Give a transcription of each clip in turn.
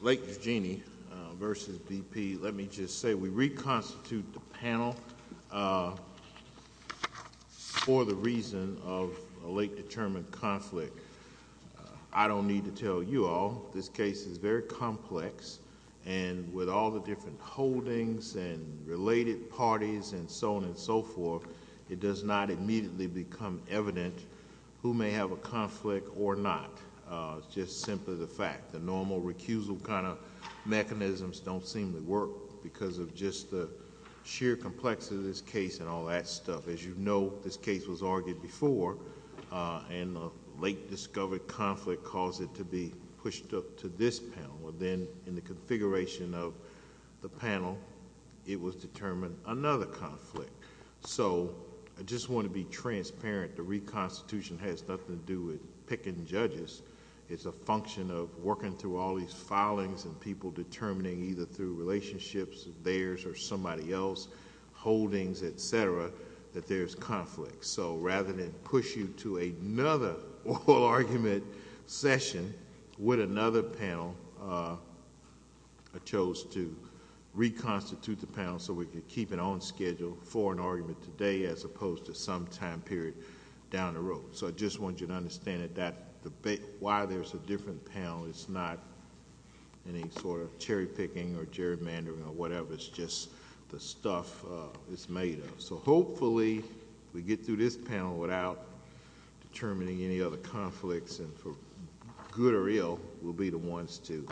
Lake Eugenie versus BP, let me just say we reconstitute the panel for the reason of a lake determined conflict. I don't need to tell you all, this case is very complex and with all the different holdings and related parties and so on and so forth, it does not immediately become evident who is simply the fact. The normal recusal kind of mechanisms don't seem to work because of just the sheer complexity of this case and all that stuff. As you know, this case was argued before and the lake discovered conflict caused it to be pushed up to this panel. Then in the configuration of the panel, it was determined another conflict. I just want to be transparent, the reconstitution has nothing to do with picking judges, it's a function of working through all these filings and people determining either through relationships of theirs or somebody else, holdings, et cetera, that there's conflict. Rather than push you to another oral argument session with another panel, I chose to reconstitute the panel so we could keep it on schedule for an argument today as opposed to some time period down the road. I just want you to understand that while there's a different panel, it's not any sort of cherry picking or gerrymandering or whatever, it's just the stuff it's made of. Hopefully, we get through this panel without determining any other conflicts and for good or ill, we'll be the ones to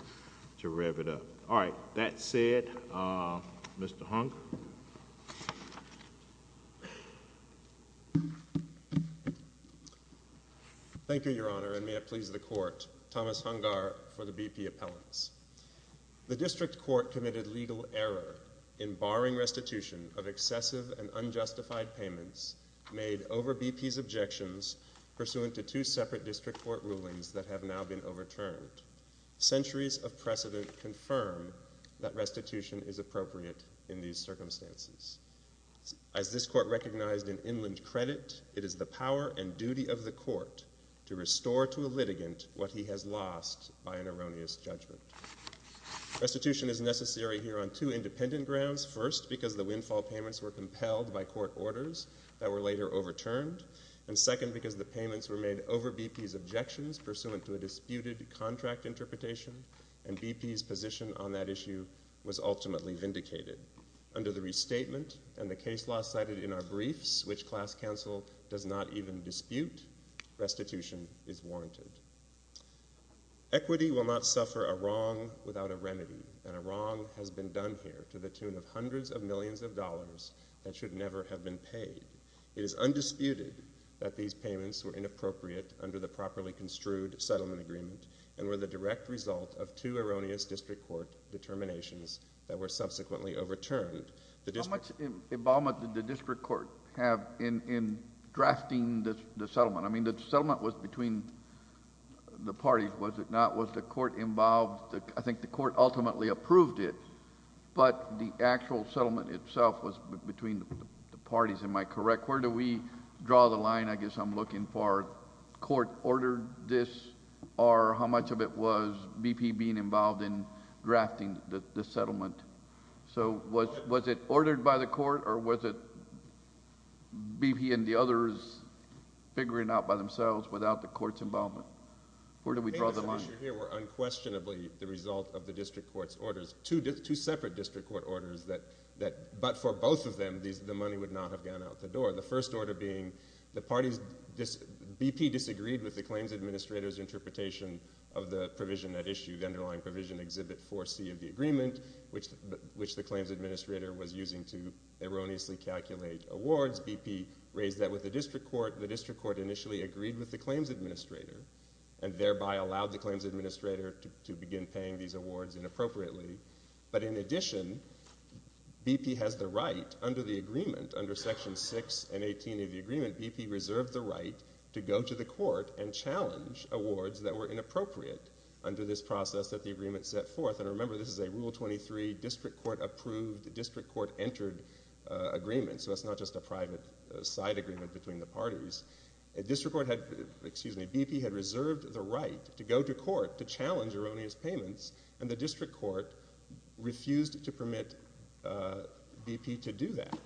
rev it up. All right, that said, Mr. Hung. Thank you, Your Honor, and may it please the court, Thomas Hungar for the BP appellants. The district court committed legal error in barring restitution of excessive and unjustified payments made over BP's objections pursuant to two separate district court rulings that have now been overturned. Centuries of precedent confirm that restitution is appropriate in these circumstances. As this court recognized in Inland Credit, it is the power and duty of the court to restore to a litigant what he has lost by an erroneous judgment. Restitution is necessary here on two independent grounds, first, because the windfall payments were compelled by court orders that were later overturned, and second, because the payments were made over BP's objections pursuant to a disputed contract interpretation, and BP's position on that issue was ultimately vindicated. Under the restatement and the case law cited in our briefs, which class counsel does not even dispute, restitution is warranted. Equity will not suffer a wrong without a remedy, and a wrong has been done here to the tune of hundreds of millions of dollars that should never have been paid. It is undisputed that these payments were inappropriate under the properly construed settlement agreement and were the direct result of two erroneous district court determinations that were subsequently overturned. The district... How much involvement did the district court have in drafting the settlement? I mean, the settlement was between the parties, was it not? Was the court involved? I think the court ultimately approved it, but the actual settlement itself was between the parties. Am I correct? Where do we draw the line? I guess I'm looking for court ordered this, or how much of it was BP being involved in drafting the settlement? Was it ordered by the court, or was it BP and the others figuring out by themselves without the court's involvement? Where do we draw the line? Payments issued here were unquestionably the result of the district court's orders, two separate district court orders, but for both of them, the money would not have gone out the door. The first order being the parties... BP disagreed with the claims administrator's interpretation of the provision that issued, the underlying provision, Exhibit 4C of the agreement, which the claims administrator was using to erroneously calculate awards. BP raised that with the district court. The district court initially agreed with the claims administrator and thereby allowed the In addition, BP has the right under the agreement, under Section 6 and 18 of the agreement, BP reserved the right to go to the court and challenge awards that were inappropriate under this process that the agreement set forth, and remember this is a Rule 23 district court approved, district court entered agreement, so it's not just a private side agreement between the parties. The district court had, excuse me, BP had reserved the right to go to court to challenge erroneous payments, and the district court refused to permit BP to do that,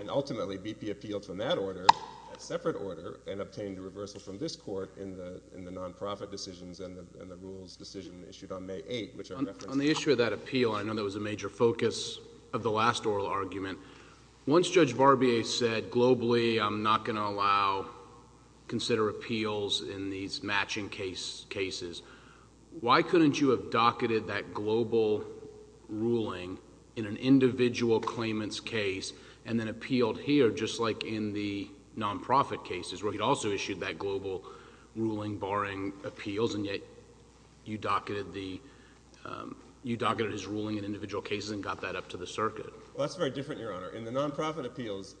and ultimately BP appealed from that order, that separate order, and obtained a reversal from this court in the non-profit decisions and the rules decision issued on May 8, which I referenced. On the issue of that appeal, I know that was a major focus of the last oral argument. Once Judge Barbier said, globally, I'm not going to allow, consider appeals in these cases, why couldn't you have docketed that global ruling in an individual claimant's case and then appealed here, just like in the non-profit cases, where he'd also issued that global ruling barring appeals, and yet you docketed the, you docketed his ruling in individual cases and got that up to the circuit? Well, that's very different, Your Honor. In the non-profit appeals,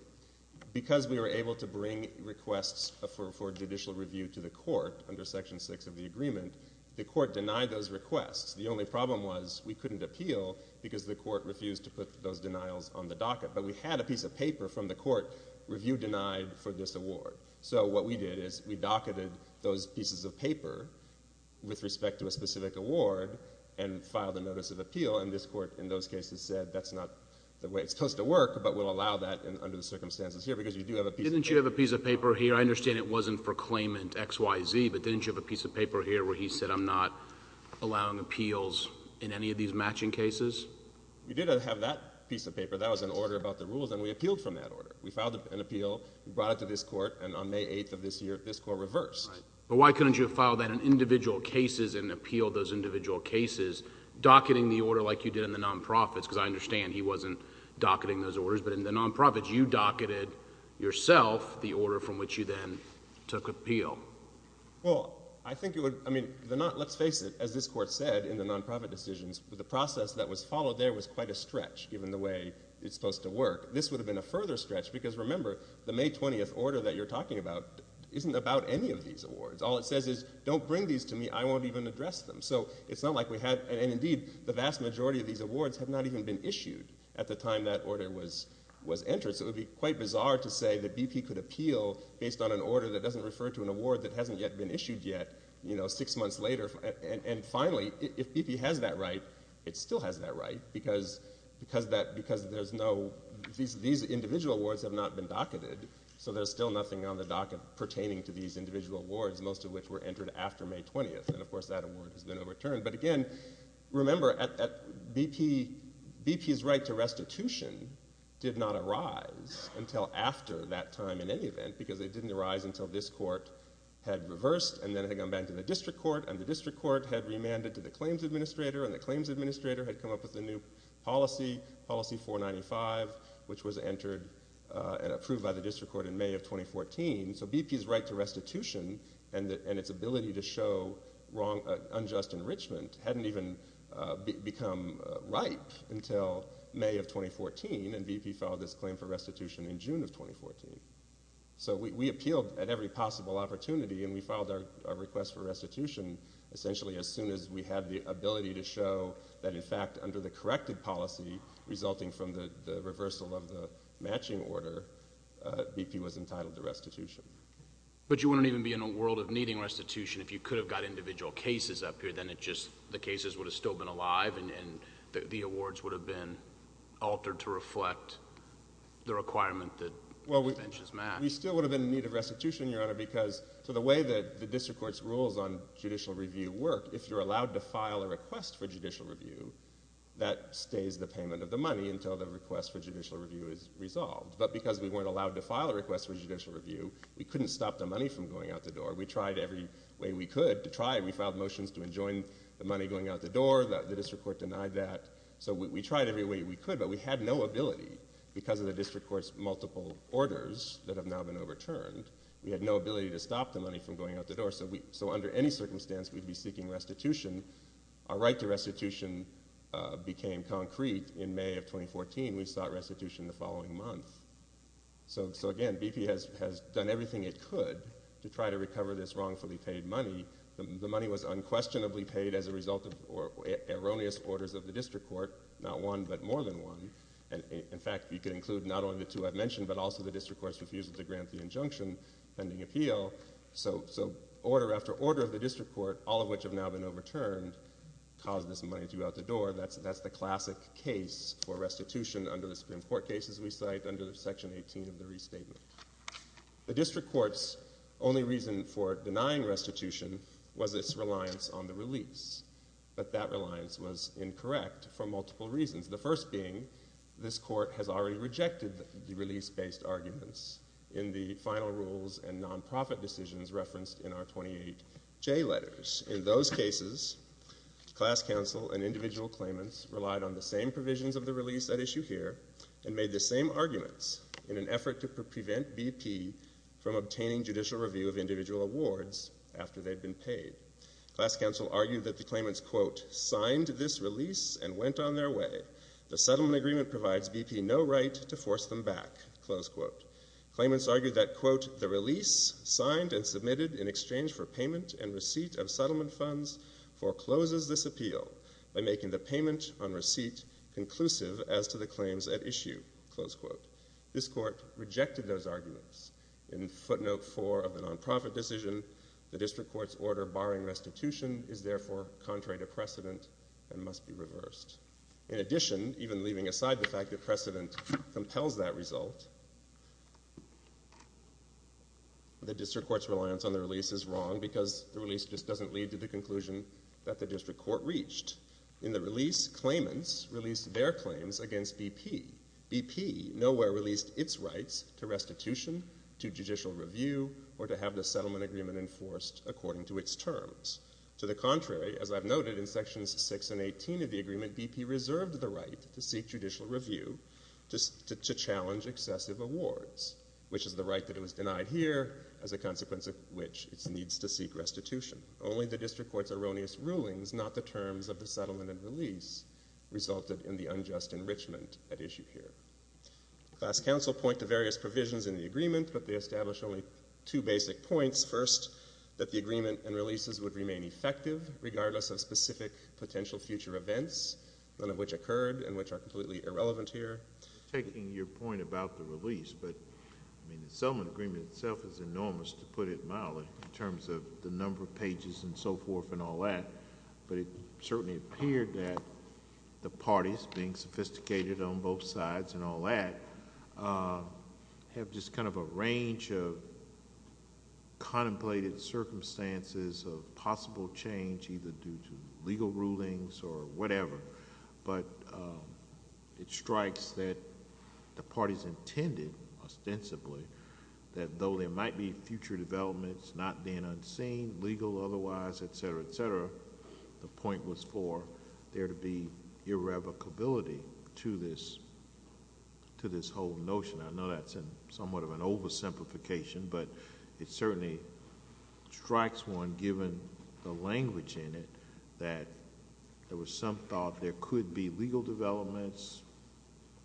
because we were able to bring requests for judicial review to the court under Section 6 of the agreement, the court denied those requests. The only problem was we couldn't appeal because the court refused to put those denials on the docket, but we had a piece of paper from the court, review denied for this award. So what we did is we docketed those pieces of paper with respect to a specific award and filed a notice of appeal, and this court in those cases said, that's not the way it's supposed to work, but we'll allow that under the circumstances here, because you do have a piece of paper. Didn't you have a piece of paper here? I understand it wasn't for claimant X, Y, Z, but didn't you have a piece of paper here where he said, I'm not allowing appeals in any of these matching cases? We did have that piece of paper, that was an order about the rules, and we appealed from that order. We filed an appeal, we brought it to this court, and on May 8th of this year, this court reversed. Right, but why couldn't you have filed that in individual cases and appealed those individual cases, docketing the order like you did in the non-profits, because I understand he wasn't docketing those orders, but in the non-profits, you docketed yourself the order, and then took appeal. Well, I think it would, I mean, let's face it, as this court said in the non-profit decisions, the process that was followed there was quite a stretch, given the way it's supposed to work. This would have been a further stretch, because remember, the May 20th order that you're talking about isn't about any of these awards. All it says is, don't bring these to me, I won't even address them. So it's not like we had, and indeed, the vast majority of these awards have not even been issued at the time that order was entered, so it would be quite bizarre to say that BP could appeal based on an order that doesn't refer to an award that hasn't yet been issued yet, you know, six months later. And finally, if BP has that right, it still has that right, because these individual awards have not been docketed, so there's still nothing on the docket pertaining to these individual awards, most of which were entered after May 20th, and of course that award has been overturned. But again, remember, BP's right to restitution did not arise until after that time, in any event, because it didn't arise until this court had reversed, and then it had gone back to the district court, and the district court had remanded to the claims administrator, and the claims administrator had come up with a new policy, policy 495, which was entered and approved by the district court in May of 2014, so BP's right to restitution and its ability to show unjust enrichment hadn't even become ripe until May of 2014, and BP filed this claim for restitution in June of 2014. So we appealed at every possible opportunity, and we filed our request for restitution essentially as soon as we had the ability to show that, in fact, under the corrected policy resulting from the reversal of the matching order, BP was entitled to restitution. But you wouldn't even be in a world of needing restitution if you could have got individual cases up here, then it just, the cases would have still been alive, and the awards would have been altered to reflect the requirement that conventions match. We still would have been in need of restitution, Your Honor, because to the way that the district court's rules on judicial review work, if you're allowed to file a request for judicial review, that stays the payment of the money until the request for judicial review is resolved. But because we weren't allowed to file a request for judicial review, we couldn't stop the money from going out the door. We tried every way we could to try, and we filed motions to enjoin the money going out the door, the district court denied that. So we tried every way we could, but we had no ability, because of the district court's multiple orders that have now been overturned, we had no ability to stop the money from going out the door. So under any circumstance, we'd be seeking restitution. Our right to restitution became concrete in May of 2014. We sought restitution the following month. So again, BP has done everything it could to try to recover this wrongfully paid money. The money was unquestionably paid as a result of erroneous orders of the district court, not one, but more than one, and in fact, you could include not only the two I've mentioned, but also the district court's refusal to grant the injunction pending appeal. So order after order of the district court, all of which have now been overturned, caused this money to go out the door. That's the classic case for restitution under the Supreme Court cases we cite, under Section 18 of the Restatement. The district court's only reason for denying restitution was its reliance on the release, but that reliance was incorrect for multiple reasons. The first being, this court has already rejected the release-based arguments in the final rules and non-profit decisions referenced in our 28J letters. In fact, in those cases, class counsel and individual claimants relied on the same provisions of the release at issue here and made the same arguments in an effort to prevent BP from obtaining judicial review of individual awards after they'd been paid. Class counsel argued that the claimants, quote, signed this release and went on their way. The settlement agreement provides BP no right to force them back, close quote. Claimants argued that, quote, the release signed and submitted in exchange for payment and receipt of settlement funds forecloses this appeal by making the payment on receipt conclusive as to the claims at issue, close quote. This court rejected those arguments. In footnote four of the non-profit decision, the district court's order barring restitution is therefore contrary to precedent and must be reversed. In addition, even leaving aside the fact that precedent compels that result, the district court's reliance on the release is wrong because the release just doesn't lead to the conclusion that the district court reached. In the release, claimants released their claims against BP. BP nowhere released its rights to restitution, to judicial review, or to have the settlement agreement enforced according to its terms. To the contrary, as I've noted in sections six and 18 of the agreement, BP reserved the right to seek judicial review to challenge excessive awards, which is the right that is a consequence of which it needs to seek restitution. Only the district court's erroneous rulings, not the terms of the settlement and release, resulted in the unjust enrichment at issue here. Class counsel point to various provisions in the agreement, but they establish only two basic points. First, that the agreement and releases would remain effective regardless of specific potential future events, none of which occurred and which are completely irrelevant here. Taking your point about the release, but the settlement agreement itself is enormous, to put it mildly, in terms of the number of pages and so forth and all that, but it certainly appeared that the parties, being sophisticated on both sides and all that, have just kind of a range of contemplated circumstances of possible change, either due to legal rulings or whatever, but it strikes that the parties intended, ostensibly, that though there might be future developments not being unseen, legal otherwise, et cetera, et cetera, the point was for there to be irrevocability to this whole notion. I know that's somewhat of an oversimplification, but it certainly strikes one, given the language in it, that there was some thought there could be legal developments,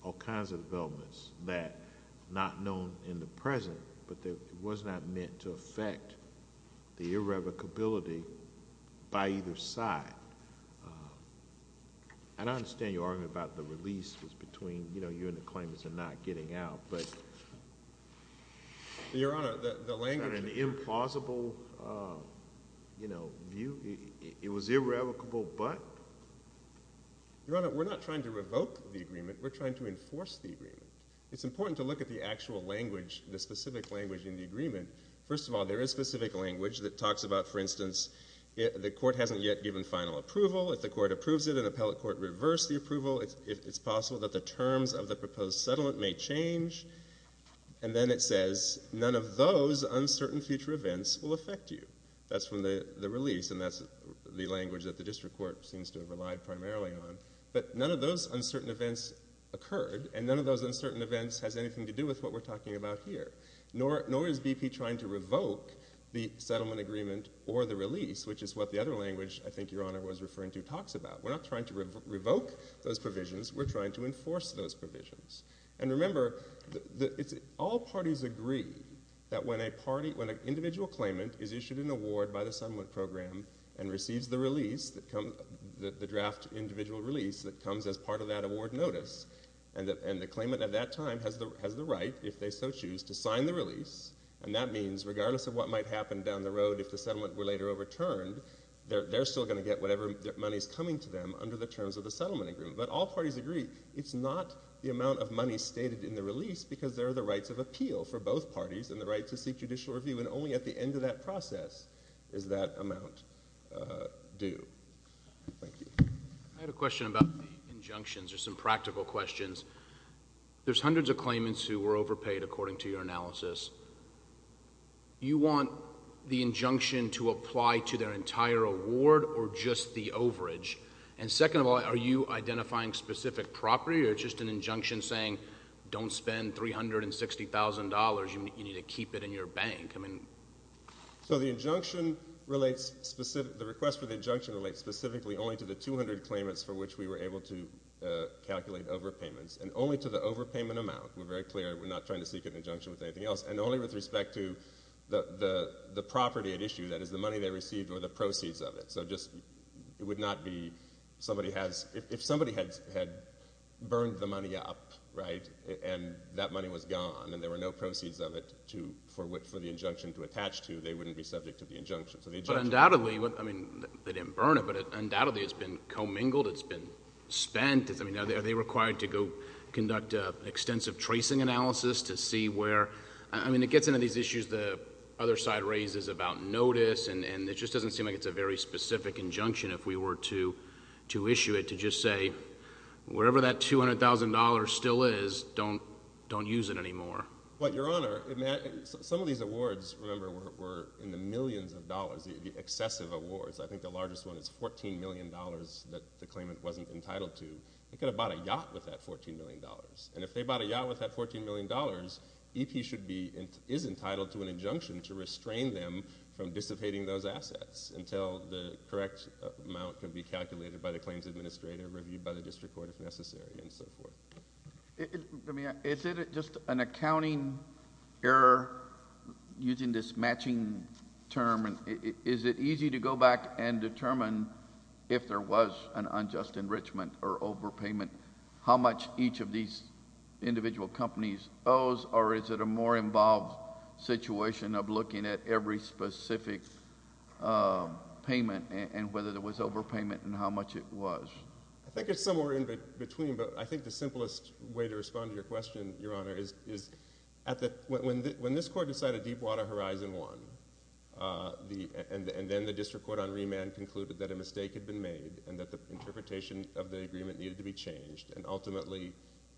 all kinds of developments, that not known in the present, but that it was not meant to affect the irrevocability by either side. I don't understand your argument about the release was between you and the claimants and not getting out, but... It was irrevocable, but... Your Honor, we're not trying to revoke the agreement, we're trying to enforce the agreement. It's important to look at the actual language, the specific language in the agreement. First of all, there is specific language that talks about, for instance, the court hasn't yet given final approval. If the court approves it, an appellate court reversed the approval. It's possible that the terms of the proposed settlement may change, and then it says, none of those uncertain future events will affect you. That's from the release, and that's the language that the district court seems to have relied primarily on, but none of those uncertain events occurred, and none of those uncertain events has anything to do with what we're talking about here, nor is BP trying to revoke the settlement agreement or the release, which is what the other language I think your Honor was referring to talks about. We're not trying to revoke those provisions, we're trying to enforce those provisions. And remember, all parties agree that when an individual claimant is issued an award by the settlement program and receives the release, the draft individual release that comes as part of that award notice, and the claimant at that time has the right, if they so choose, to sign the release, and that means regardless of what might happen down the road if the settlement were later overturned, they're still going to get whatever money is coming to them under the terms of the settlement agreement. But all parties agree. It's not the amount of money stated in the release, because there are the rights of appeal for both parties, and the right to seek judicial review, and only at the end of that process is that amount due. Thank you. I had a question about the injunctions, or some practical questions. There's hundreds of claimants who were overpaid, according to your analysis. You want the injunction to apply to their entire award, or just the overage? And second of all, are you identifying specific property, or is it just an injunction saying don't spend $360,000, you need to keep it in your bank? So the request for the injunction relates specifically only to the 200 claimants for which we were able to calculate overpayments, and only to the overpayment amount. We're very clear, we're not trying to seek an injunction with anything else, and only with respect to the property at issue, that is the money they received or the proceeds of it. So just, it would not be, if somebody had burned the money up, right, and that money was gone, and there were no proceeds of it for the injunction to attach to, they wouldn't be subject to the injunction. But undoubtedly, I mean, they didn't burn it, but undoubtedly it's been commingled, it's been spent. I mean, are they required to go conduct an extensive tracing analysis to see where, I mean, it gets into these issues the other side raises about notice, and it just doesn't seem like it's a very specific injunction if we were to issue it, to just say, wherever that $200,000 still is, don't use it anymore. But, Your Honor, some of these awards, remember, were in the millions of dollars, the excessive awards. I think the largest one is $14 million that the claimant wasn't entitled to. They could have bought a yacht with that $14 million. And if they bought a yacht with that $14 million, EP should be, is entitled to an injunction to restrain them from dissipating those assets until the correct amount can be calculated by the claims administrator, reviewed by the district court if necessary, and so forth. Is it just an accounting error, using this matching term, is it easy to go back and determine if there was an unjust enrichment or overpayment, how much each of these individual companies owes, or is it a more involved situation of looking at every specific payment and whether there was overpayment and how much it was? I think it's somewhere in between, but I think the simplest way to respond to your question, Your Honor, is when this court decided Deepwater Horizon won, and then the district court on remand concluded that a mistake had been made, and that the interpretation of the agreement needed to be changed, and ultimately,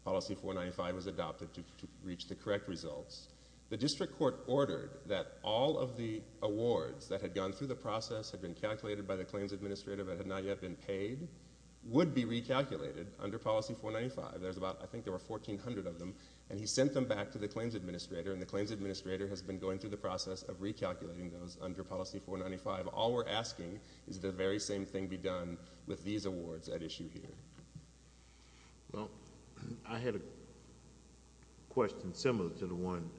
Policy 495 was adopted to reach the correct results. The district court ordered that all of the awards that had gone through the process, had been calculated by the claims administrator, but had not yet been paid, would be recalculated under Policy 495. There's about, I think there were 1,400 of them, and he sent them back to the claims administrator, and the claims administrator has been going through the process of recalculating those under Policy 495. All we're asking is that the very same thing be done with these awards at issue here. Well, I had a question similar to the one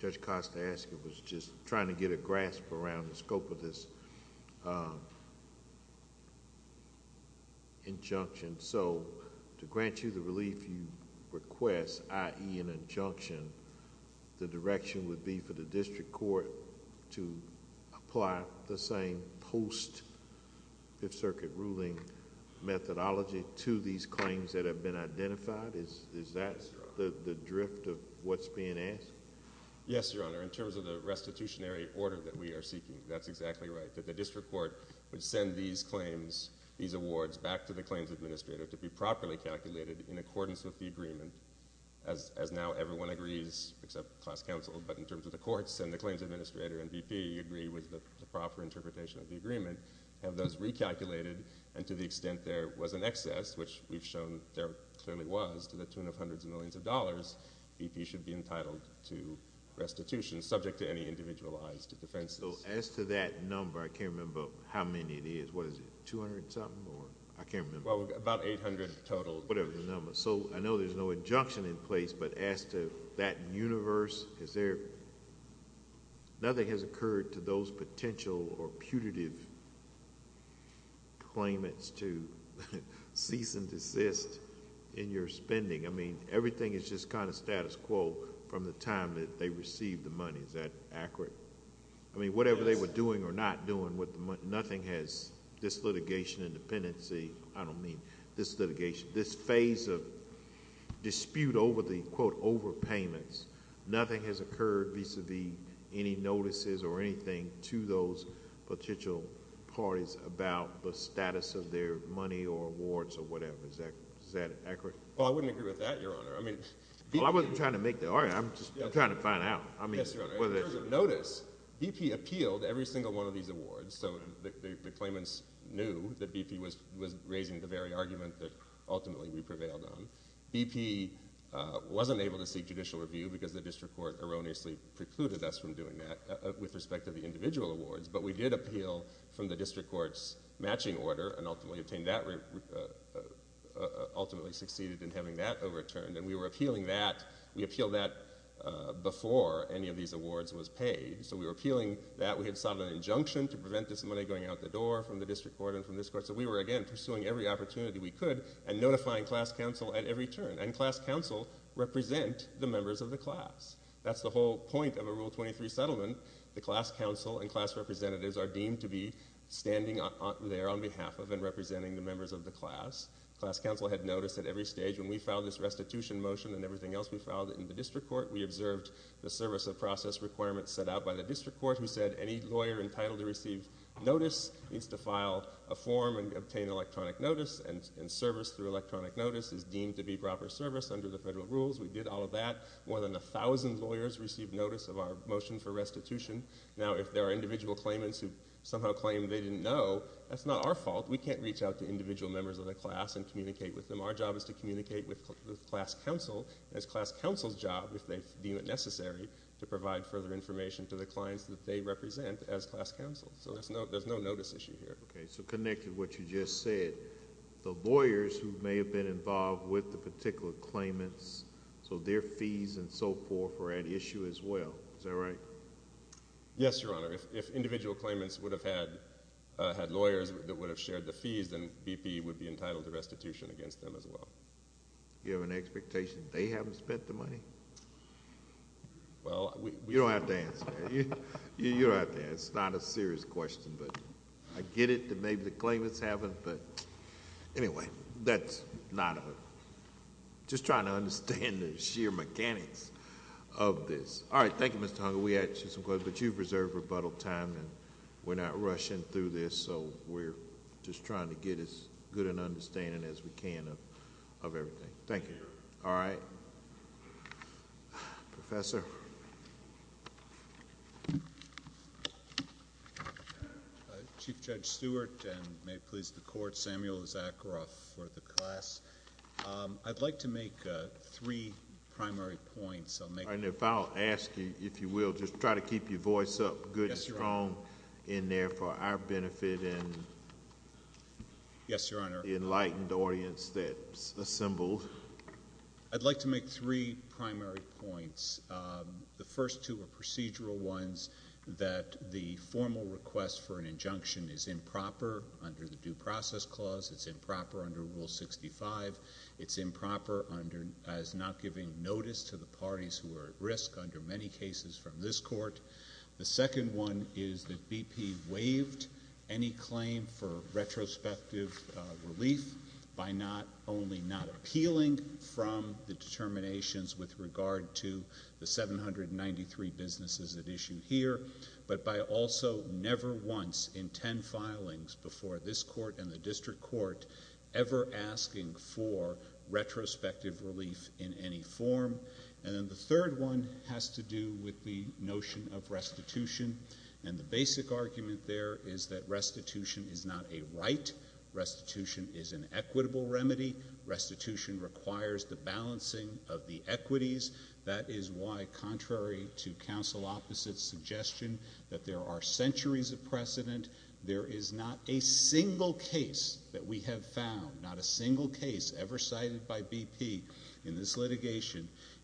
Judge Costa asked, it was just trying to get a grasp around the scope of this injunction, so to grant you the relief you request, i.e. an injunction, the direction would be for the district court to apply the same post-Fifth Circuit ruling methodology to these claims that have been identified? Is that the drift of what's being asked? Yes, Your Honor. In terms of the restitutionary order that we are seeking, that's exactly right, that the district court would send these claims, these awards, back to the claims administrator to be properly calculated in accordance with the agreement, as now everyone agrees, except class counsel, but in terms of the courts, and the claims administrator and VP agree with the proper interpretation of the agreement, have those recalculated, and to the extent there was an excess, which we've shown there clearly was, to the tune of hundreds of millions of dollars, VP should be entitled to restitution, subject to any individualized defenses. So as to that number, I can't remember how many it is, what is it, 200-something, or I can't remember? Well, about 800 total. Whatever the number. So I know there's no injunction in place, but as to that universe, is there... nothing has occurred to those potential or putative claimants to cease and desist in your spending. I mean, everything is just kind of status quo from the time that they received the money. Is that accurate? Yes. I mean, whatever they were doing or not doing, nothing has... this litigation and dependency, I don't mean this litigation, this phase of dispute over the, quote, overpayments, nothing has occurred vis-a-vis any notices or anything to those potential parties about the status of their money or awards or whatever. Is that accurate? Well, I wouldn't agree with that, Your Honor. I mean... Well, I wasn't trying to make that argument. I'm just trying to find out. I mean... Yes, Your Honor. In terms of notice, VP appealed every single one of these awards, so the claimants knew that VP was raising the very argument that ultimately we prevailed on. VP wasn't able to seek judicial review because the district court erroneously precluded us from doing that with respect to the individual awards, but we did appeal from the district court's matching order and ultimately obtained that... ultimately succeeded in having that overturned, and we were appealing that... we appealed that before any of these awards was paid. So, we were appealing that we had sought an injunction to prevent this money going out the door from the district court and from this court, so we were, again, pursuing every opportunity we could and notifying class counsel at every turn, and class counsel represent the members of the class. That's the whole point of a Rule 23 settlement. The class counsel and class representatives are deemed to be standing there on behalf of and representing the members of the class. Class counsel had noticed at every stage when we filed this restitution motion and everything else we filed in the district court, we observed the service of process requirements set out by the district court. We said any lawyer entitled to receive notice needs to file a form and obtain electronic notice, and service through electronic notice is deemed to be proper service under the federal rules. We did all of that. More than 1,000 lawyers received notice of our motion for restitution. Now, if there are individual claimants who somehow claim they didn't know, that's not our fault. We can't reach out to individual members of the class and communicate with them. Our job is to communicate with class counsel, and it's class counsel's job, if they deem it necessary, to provide further information to the clients that they represent as class counsel. So there's no notice issue here. Okay. So connected to what you just said, the lawyers who may have been involved with the particular claimants, so their fees and so forth were at issue as well. Is that right? Yes, Your Honor. If individual claimants would have had lawyers that would have shared the fees, then BP would be entitled to restitution against them as well. You have an expectation they haven't spent the money? Well, you don't have to answer that. You don't have to answer that. It's not a serious question, but I get it that maybe the claimants haven't, but anyway, that's not a... just trying to understand the sheer mechanics of this. All right. Thank you, Mr. Hunger. We had some questions, but you've reserved rebuttal time, and we're not rushing through this, so we're just trying to get as good an understanding as we can of everything. Thank you. Thank you. All right. Professor? Chief Judge Stewart, and may it please the Court, Samuel Issacharoff for the class. I'd like to make three primary points. If I'll ask you, if you will, just try to keep your voice up good and strong in there for our benefit and... Yes, Your Honor.... the enlightened audience that's assembled. I'd like to make three primary points. The first two are procedural ones, that the formal request for an injunction is improper under the Due Process Clause. It's improper under Rule 65. It's improper as not giving notice to the parties who are at risk under many cases from this Court. The second one is that BP waived any claim for retrospective relief by not... only not appealing from the determinations with regard to the 793 businesses at issue here, but by also never once in ten filings before this Court and the District Court ever asking for retrospective relief in any form. And then the third one has to do with the notion of restitution. And the basic argument there is that restitution is not a right. Restitution is an equitable remedy. Restitution requires the balancing of the equities. That is why, contrary to counsel opposite's suggestion that there are centuries of precedent, there is not a single case that we have found, not a single case ever cited by BP in this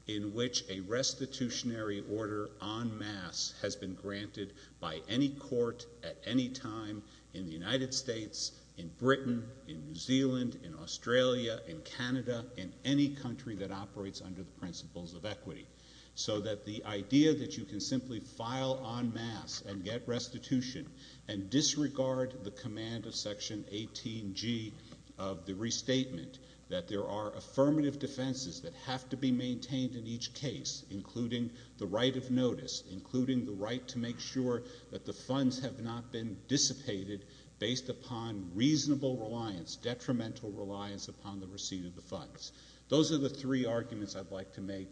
in which a restitutionary order en masse has been granted by any court at any time in the United States, in Britain, in New Zealand, in Australia, in Canada, in any country that operates under the principles of equity. So that the idea that you can simply file en masse and get restitution and disregard the command of Section 18G of the Restatement, that there are affirmative defenses that have to be maintained in each case, including the right of notice, including the right to make sure that the funds have not been dissipated based upon reasonable reliance, detrimental reliance upon the receipt of the funds. Those are the three arguments I'd like to make.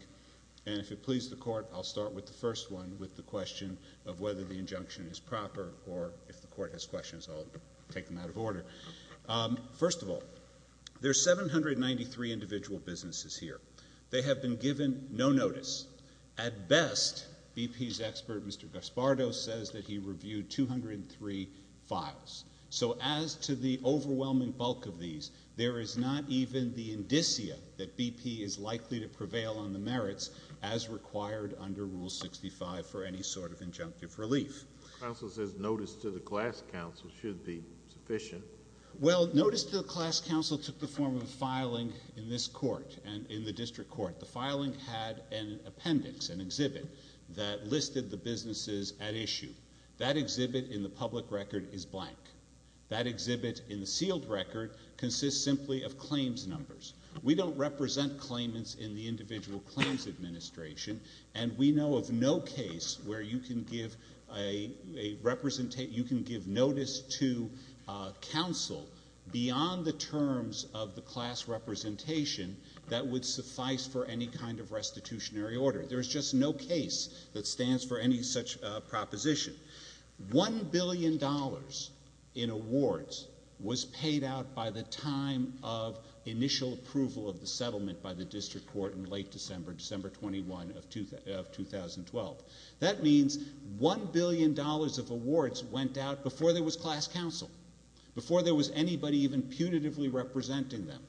And if it pleases the Court, I'll start with the first one, with the question of whether the injunction is proper, or if the Court has questions, I'll take them out of order. First of all, there are 793 individual businesses here. They have been given no notice. At best, BP's expert, Mr. Gaspardo, says that he reviewed 203 files. So as to the overwhelming bulk of these, there is not even the indicia that BP is likely to prevail on the merits as required under Rule 65 for any sort of injunctive relief. The Council says notice to the Class Council should be sufficient. Well, notice to the Class Council took the form of filing in this Court and in the District Court. The filing had an appendix, an exhibit, that listed the businesses at issue. That exhibit in the public record is blank. That exhibit in the sealed record consists simply of claims numbers. We don't represent claimants in the Individual Claims Administration, and we know of no case where you can give notice to Council beyond the terms of the class representation that would suffice for any kind of restitutionary order. There is just no case that stands for any such proposition. One billion dollars in awards was paid out by the time of initial approval of the settlement by the District Court in late December, December 21 of 2012. That means one billion dollars of awards went out before there was Class Council, before there was anybody even punitively representing them.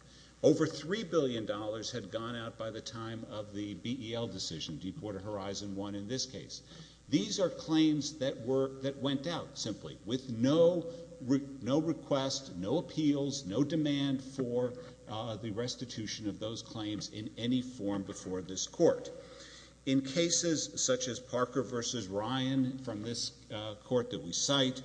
Over three billion dollars had gone out by the time of the BEL decision, Deepwater Horizon 1 in this case. These are claims that went out simply with no request, no appeals, no demand for the restitution of those claims in any form before this Court. In cases such as Parker v. Ryan from this Court that we cite,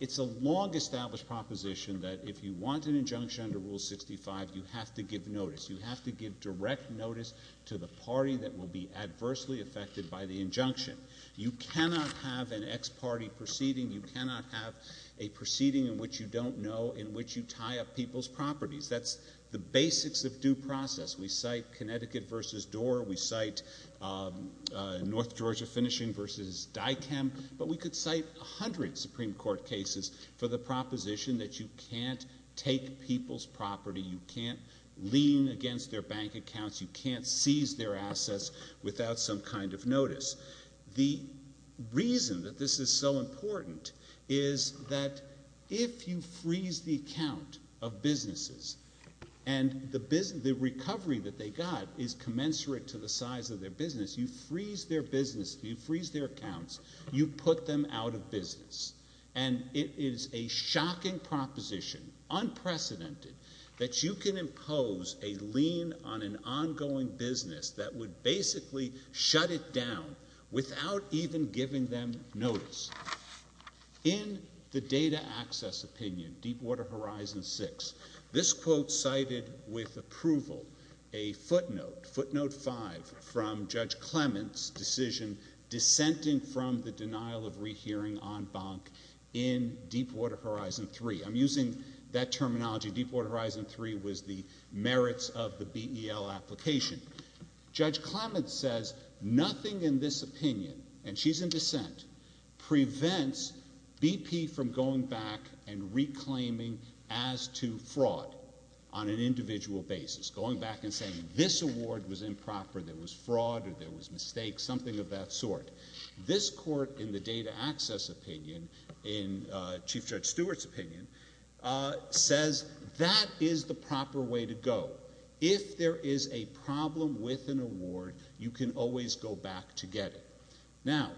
it's a long-established proposition that if you want an injunction under Rule 65, you have to give notice. You have to give direct notice to the party that will be adversely affected by the injunction. You cannot have an ex parte proceeding. You cannot have a proceeding in which you don't know in which you tie up people's properties. That's the basics of due process. We cite Connecticut v. Doar. We cite North Georgia Finishing v. DICAM. But we could cite a hundred Supreme Court cases for the proposition that you can't take people's property, you can't lean against their bank accounts, you can't seize their assets without some kind of notice. The reason that this is so important is that if you freeze the account of businesses and the recovery that they got is commensurate to the size of their business, you freeze their business, you freeze their accounts, you put them out of business. And it is a shocking proposition, unprecedented, that you can impose a lean on an ongoing business that would basically shut it down without even giving them notice. In the data access opinion, Deepwater Horizon 6, this quote cited with approval a footnote, footnote 5, from Judge Clement's decision dissenting from the denial of rehearing on bonk in Deepwater Horizon 3. I'm using that terminology. Deepwater Horizon 3 was the merits of the BEL application. Judge Clement says nothing in this opinion, and she's in dissent, prevents BP from going back and reclaiming as to fraud on an individual basis. Going back and saying this award was improper, there was fraud or there was mistake, something of that sort. This court in the data access opinion, in Chief Judge Stewart's opinion, says that is the proper way to go. If there is a problem with an award, you can always go back to get it. Now,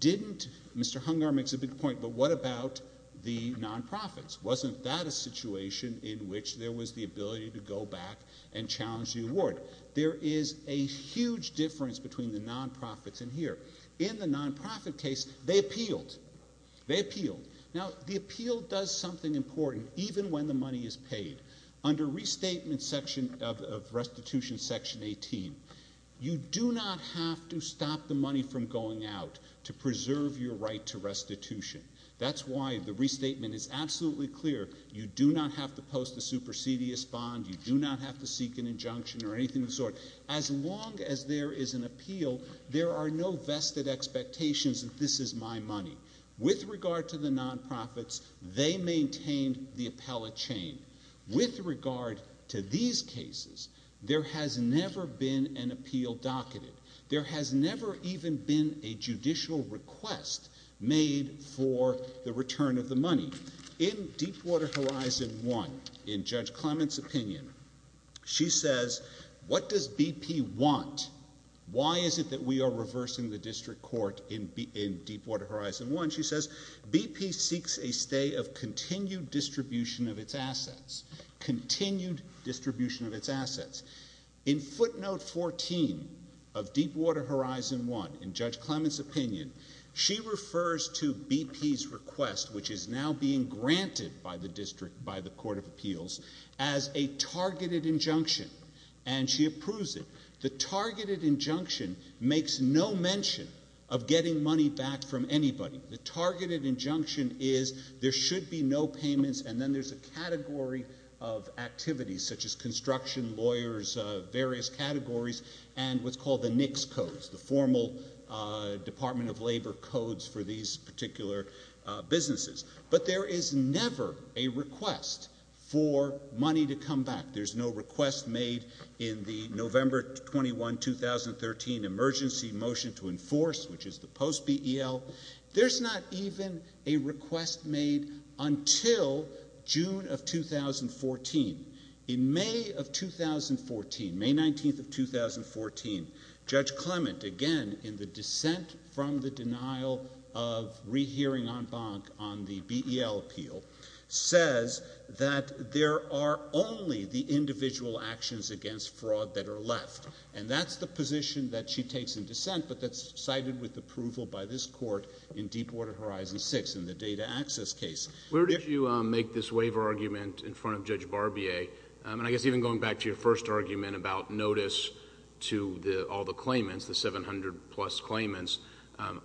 didn't, Mr. Hungar makes a big point, but what about the non-profits? Wasn't that a situation in which there was the ability to go back and challenge the award? There is a huge difference between the non-profits and here. In the non-profit case, they appealed. They appealed. Now, the appeal does something important, even when the money is paid. Under restatement section of restitution section 18, you do not have to stop the money from going out to preserve your right to restitution. That's why the restatement is absolutely clear. You do not have to post a supersedious bond. You do not have to seek an injunction or anything of the sort. As long as there is an appeal, there are no vested expectations that this is my money. With regard to the non-profits, they maintained the appellate chain. With regard to these cases, there has never been an appeal docketed. There has never even been a judicial request made for the return of the money. In Deepwater Horizon 1, in Judge Clement's opinion, she says, what does BP want? Why is it that we are reversing the district court in Deepwater Horizon 1? She says, BP seeks a stay of continued distribution of its assets. Continued distribution of its assets. In footnote 14 of Deepwater Horizon 1, in Judge Clement's opinion, she refers to BP's request, which is now being granted by the district, by the court of appeals, as a targeted injunction, and she approves it. The targeted injunction makes no mention of getting money back from anybody. The targeted injunction is there should be no payments, and then there's a category of activities, such as construction, lawyers, various categories, and what's called the NICS codes, the formal Department of Labor codes for these particular businesses. But there is never a request for money to come back. There's no request made in the November 21, 2013, emergency motion to enforce, which is the post-BEL. There's not even a request made until June of 2014. In May of 2014, May 19th of 2014, Judge Clement, again, in the dissent from the denial of rehearing en banc on the BEL appeal, says that there are only the individual actions against fraud that are left, and that's the position that she takes in dissent, but that's cited with approval by this court in Deepwater Horizon 6, in the data access case. Where did you make this waiver argument in front of Judge Barbier? And I guess even going back to your first argument about notice to all the claimants, the 700 plus claimants,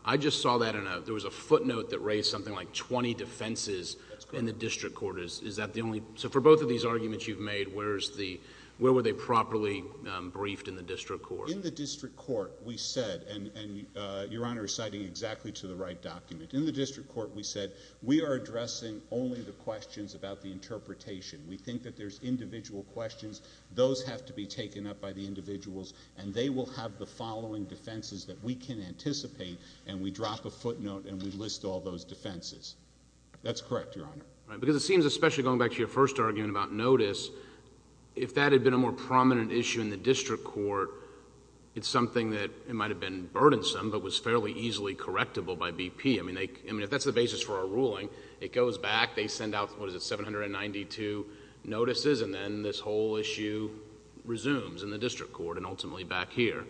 I just saw that in a... there was a footnote that raised something like 20 defenses in the district court. Is that the only... So for both of these arguments you've made, where were they properly briefed in the district court? In the district court, we said, and Your Honor is citing exactly to the right document. In the district court, we said, we are addressing only the questions about the interpretation. We think that there's individual questions. Those have to be taken up by the individuals, and they will have the following defenses that we can anticipate, and we drop a footnote and we list all those defenses. That's correct, Your Honor. Because it seems, especially going back to your first argument about notice, if that had been a more prominent issue in the district court, it's something that might have been burdensome, but was fairly easily correctable by BP. I mean, if that's the basis for our ruling, it goes back. They send out, what is it, 792 notices, and then this whole issue resumes in the district court, and ultimately back here.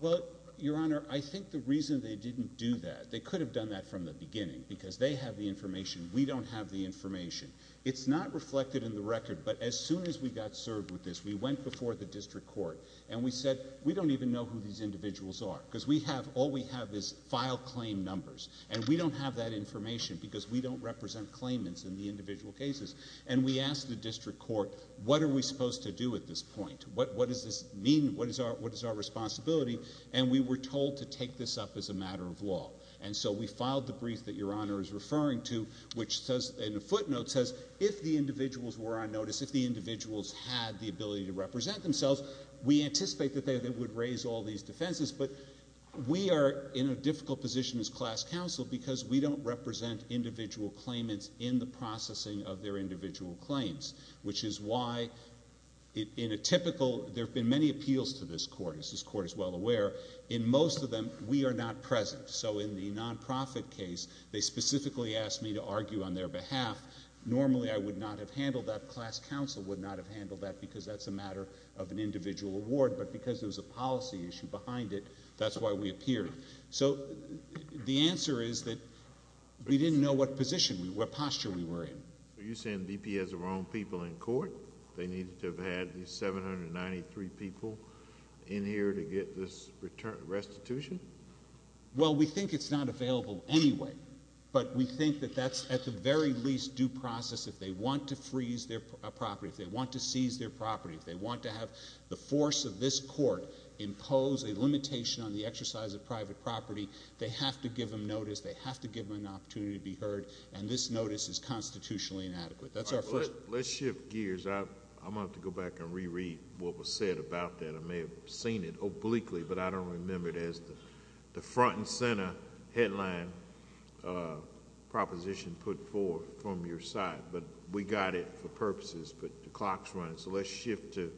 Well, Your Honor, I think the reason they didn't do that, they could have done that from the beginning, because they have the information. We don't have the information. It's not reflected in the record, but as soon as we got served with this, we went before the district court, and we said, we don't even know who these individuals are, because all we have is file claim numbers, and we don't have that information because we don't represent claimants in the individual cases. And we asked the district court, what are we supposed to do at this point? What does this mean? What is our responsibility? And we were told to take this up as a matter of law. And so we filed the brief that Your Honor is referring to, which says, in a footnote, says, if the individuals were on notice, if the individuals had the ability to represent themselves, we anticipate that they would raise all these defenses, but we are in a difficult position as class counsel because we don't represent individual claimants in the processing of their individual claims, which is why in a typical... There have been many appeals to this court, as this court is well aware. In most of them, we are not present. So in the nonprofit case, they specifically asked me to argue on their behalf. Normally I would not have handled that. Class counsel would not have handled that because that's a matter of an individual award, but because there was a policy issue behind it, that's why we appeared. So the answer is that we didn't know what position, what posture we were in. Are you saying the D.P. has the wrong people in court? They needed to have had these 793 people in here to get this restitution? Well, we think it's not available anyway, but we think that that's at the very least due process. If they want to freeze their property, if they want to seize their property, if they want to have the force of this court impose a limitation on the exercise of private property, they have to give them notice, they have to give them an opportunity to be heard, and this notice is constitutionally inadequate. Let's shift gears. I'm going to have to go back and reread what was said about that. I may have seen it obliquely, but I don't remember it as the front and center headline proposition put forth from your side. But we got it for purposes, but the clock's running. So let's shift to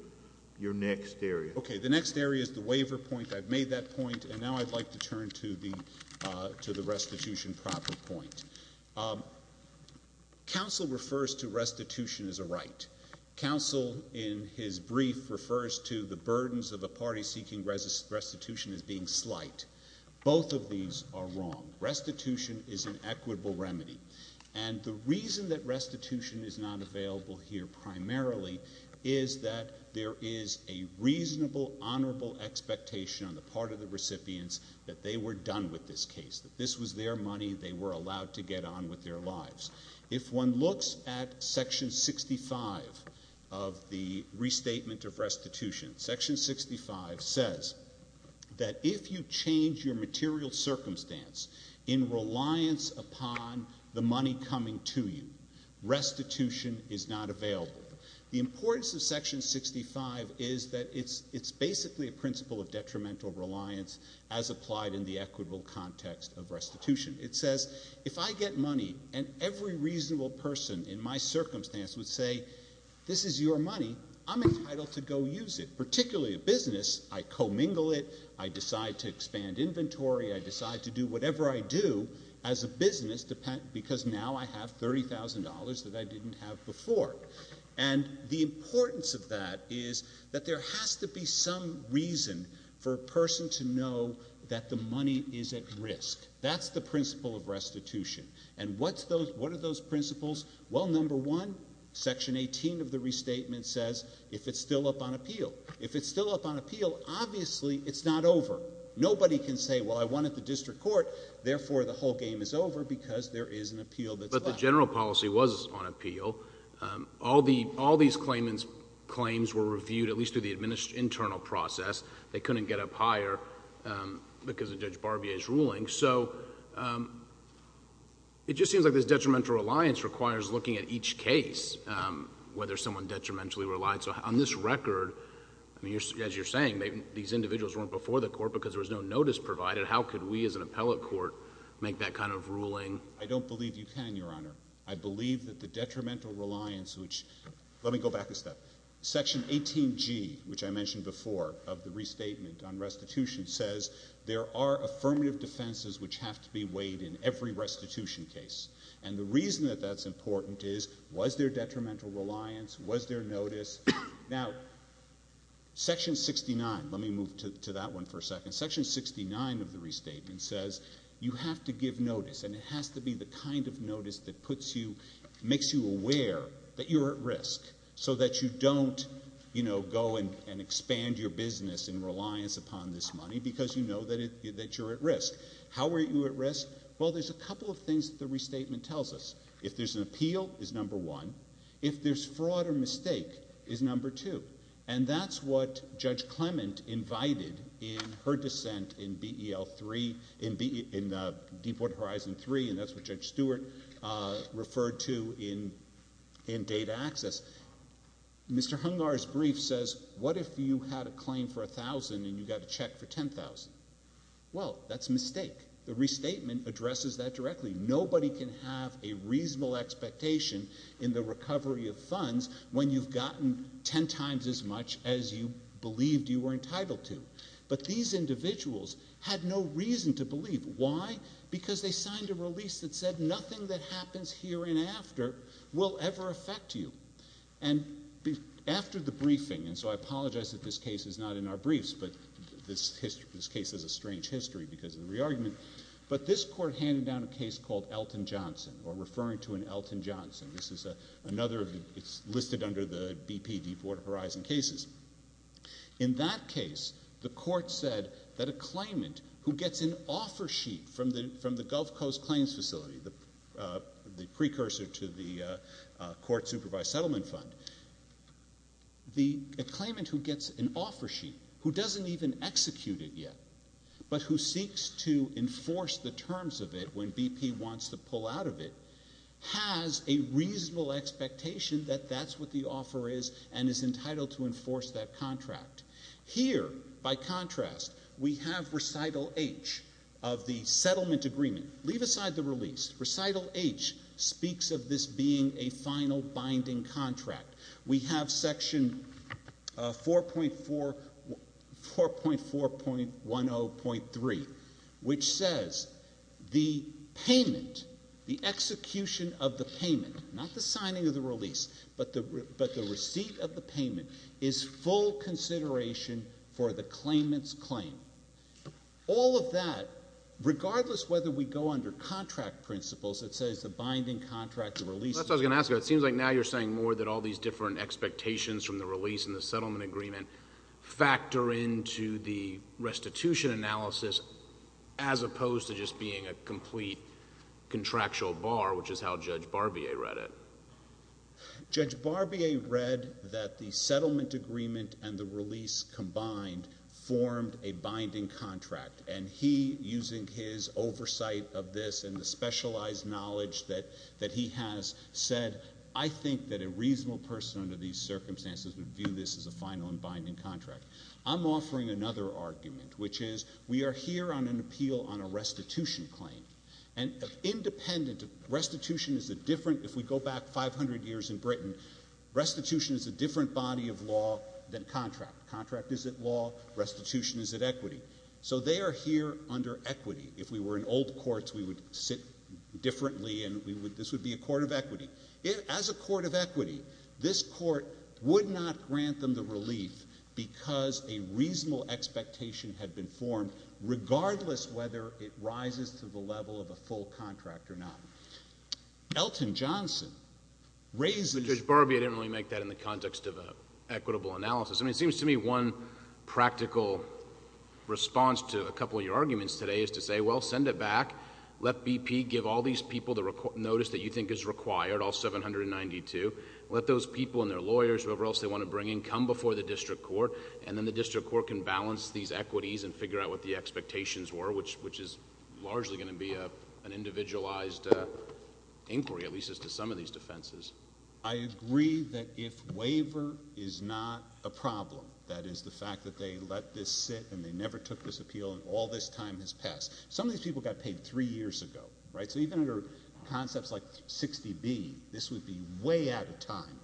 your next area. Okay, the next area is the waiver point. I've made that point, and now I'd like to turn to the restitution proper point. Counsel refers to restitution as a right. Counsel, in his brief, refers to the burdens of a party seeking restitution as being slight. Both of these are wrong. Restitution is an equitable remedy. And the reason that restitution is not available here primarily is that there is a reasonable, honorable expectation on the part of the recipients that they were done with this case, that this was their money, they were allowed to get on with their lives. If one looks at Section 65 of the Restatement of Restitution, Section 65 says that if you change your material circumstance in reliance upon the money coming to you, restitution is not available. The importance of Section 65 is that it's basically a principle of detrimental reliance as applied in the equitable context of restitution. It says if I get money and every reasonable person in my circumstance would say this is your money, I'm entitled to go use it, particularly a business. I commingle it. I decide to expand inventory. I decide to do whatever I do as a business because now I have $30,000 that I didn't have before. And the importance of that is that there has to be some reason for a person to know that the money is at risk. That's the principle of restitution. And what are those principles? Well, number one, Section 18 of the Restatement says if it's still up on appeal. If it's still up on appeal, obviously it's not over. Nobody can say, well, I want it at the district court, therefore the whole game is over because there is an appeal that's left. But the general policy was on appeal. All these claims were reviewed, at least through the internal process. They couldn't get up higher because of Judge Barbier's ruling. So it just seems like this detrimental reliance requires looking at each case, whether someone detrimentally relied. So on this record, as you're saying, these individuals weren't before the court because there was no notice provided. How could we as an appellate court make that kind of ruling? I don't believe you can, Your Honor. I believe that the detrimental reliance, which let me go back a step. Section 18G, which I mentioned before of the Restatement on restitution, says there are affirmative defenses which have to be weighed in every restitution case. And the reason that that's important is was there detrimental reliance? Was there notice? Now, Section 69, let me move to that one for a second. Section 69 of the Restatement says you have to give notice, and it has to be the kind of notice that puts you, makes you aware that you're at risk so that you don't go and expand your business in reliance upon this money because you know that you're at risk. How are you at risk? Well, there's a couple of things that the Restatement tells us. If there's an appeal, it's number one. If there's fraud or mistake, it's number two. And that's what Judge Clement invited in her dissent in Deepwater Horizon 3, and that's what Judge Stewart referred to in Data Access. Mr. Hungar's brief says, what if you had a claim for $1,000 and you got a check for $10,000? Well, that's a mistake. The Restatement addresses that directly. Nobody can have a reasonable expectation in the recovery of funds when you've gotten ten times as much as you believed you were entitled to. But these individuals had no reason to believe. Why? Because they signed a release that said nothing that happens here and after will ever affect you. And after the briefing, and so I apologize that this case is not in our briefs, but this case has a strange history because of the re-argument, but this court handed down a case called Elton Johnson or referring to an Elton Johnson. This is another of the listed under the BP Deepwater Horizon cases. In that case, the court said that a claimant who gets an offer sheet from the Gulf Coast Claims Facility, the precursor to the court-supervised settlement fund, the claimant who gets an offer sheet who doesn't even execute it yet but who seeks to enforce the terms of it when BP wants to pull out of it, has a reasonable expectation that that's what the offer is and is entitled to enforce that contract. Here, by contrast, we have Recital H of the settlement agreement. Leave aside the release. Recital H speaks of this being a final binding contract. We have Section 4.4.10.3, which says the payment, the execution of the payment, not the signing of the release, but the receipt of the payment, is full consideration for the claimant's claim. All of that, regardless whether we go under contract principles, it says the binding contract of release. Well, that's what I was going to ask you. It seems like now you're saying more that all these different expectations from the release and the settlement agreement factor into the restitution analysis as opposed to just being a complete contractual bar, which is how Judge Barbier read it. Judge Barbier read that the settlement agreement and the release combined formed a binding contract, and he, using his oversight of this and the specialized knowledge that he has said, I think that a reasonable person under these circumstances would view this as a final and binding contract. I'm offering another argument, which is we are here on an appeal on a restitution claim, and independent of restitution is a different, if we go back 500 years in Britain, restitution is a different body of law than contract. Contract is at law. Restitution is at equity. So they are here under equity. If we were in old courts, we would sit differently, and this would be a court of equity. As a court of equity, this court would not grant them the relief because a reasonable expectation had been formed, regardless whether it rises to the level of a full contract or not. Elton Johnson raises— But Judge Barbier didn't really make that in the context of an equitable analysis. It seems to me one practical response to a couple of your arguments today is to say, well, send it back. Let BP give all these people the notice that you think is required, all 792. Let those people and their lawyers, whoever else they want to bring in, come before the district court, and then the district court can balance these equities and figure out what the expectations were, which is largely going to be an individualized inquiry, at least as to some of these defenses. I agree that if waiver is not a problem, that is, the fact that they let this sit and they never took this appeal and all this time has passed. Some of these people got paid three years ago, right? So even under concepts like 60B, this would be way out of time.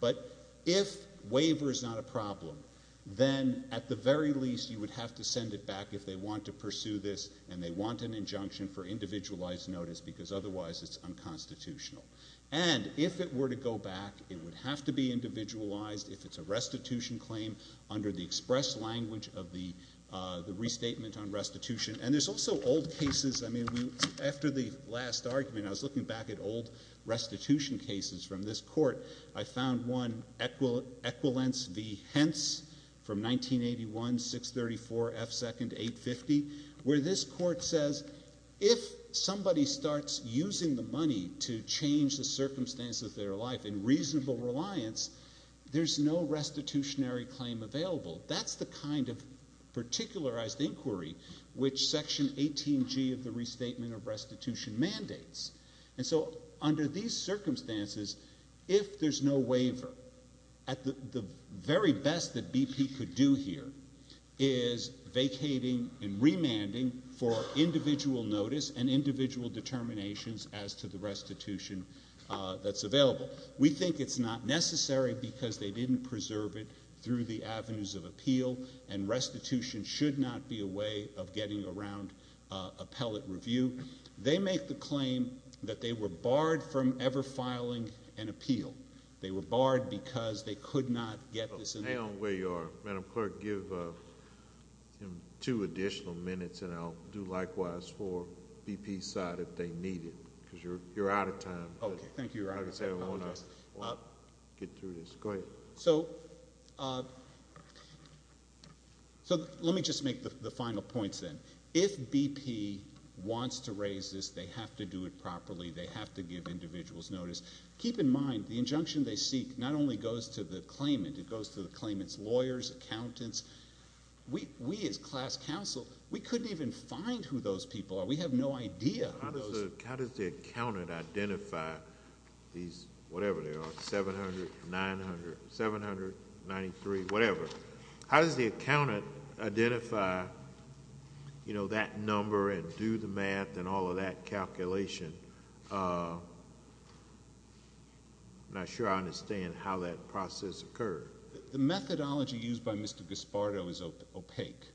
But if waiver is not a problem, then at the very least you would have to send it back if they want to pursue this and they want an injunction for individualized notice because otherwise it's unconstitutional. And if it were to go back, it would have to be individualized if it's a restitution claim under the express language of the restatement on restitution. And there's also old cases. I mean, after the last argument, I was looking back at old restitution cases from this court. I found one, Equilence v. Hentz from 1981, 634 F. Second, 850, where this court says if somebody starts using the money to change the circumstances of their life in reasonable reliance, there's no restitutionary claim available. That's the kind of particularized inquiry which Section 18G of the Restatement of Restitution mandates. And so under these circumstances, if there's no waiver, the very best that BP could do here is vacating and remanding for individual notice and individual determinations as to the restitution that's available. We think it's not necessary because they didn't preserve it through the avenues of appeal and restitution should not be a way of getting around appellate review. They make the claim that they were barred from ever filing an appeal. They were barred because they could not get this in the court. Hang on where you are. Madam Clerk, give him two additional minutes, and I'll do likewise for BP's side if they need it because you're out of time. Okay. Thank you, Your Honor. I want to get through this. Go ahead. So let me just make the final points then. If BP wants to raise this, they have to do it properly. They have to give individuals notice. Keep in mind the injunction they seek not only goes to the claimant. It goes to the claimant's lawyers, accountants. We as class counsel, we couldn't even find who those people are. We have no idea who those are. How does the accountant identify these whatever they are, 700, 900, 793, whatever? How does the accountant identify, you know, that number and do the math and all of that calculation? I'm not sure I understand how that process occurred. The methodology used by Mr. Gaspardo is opaque.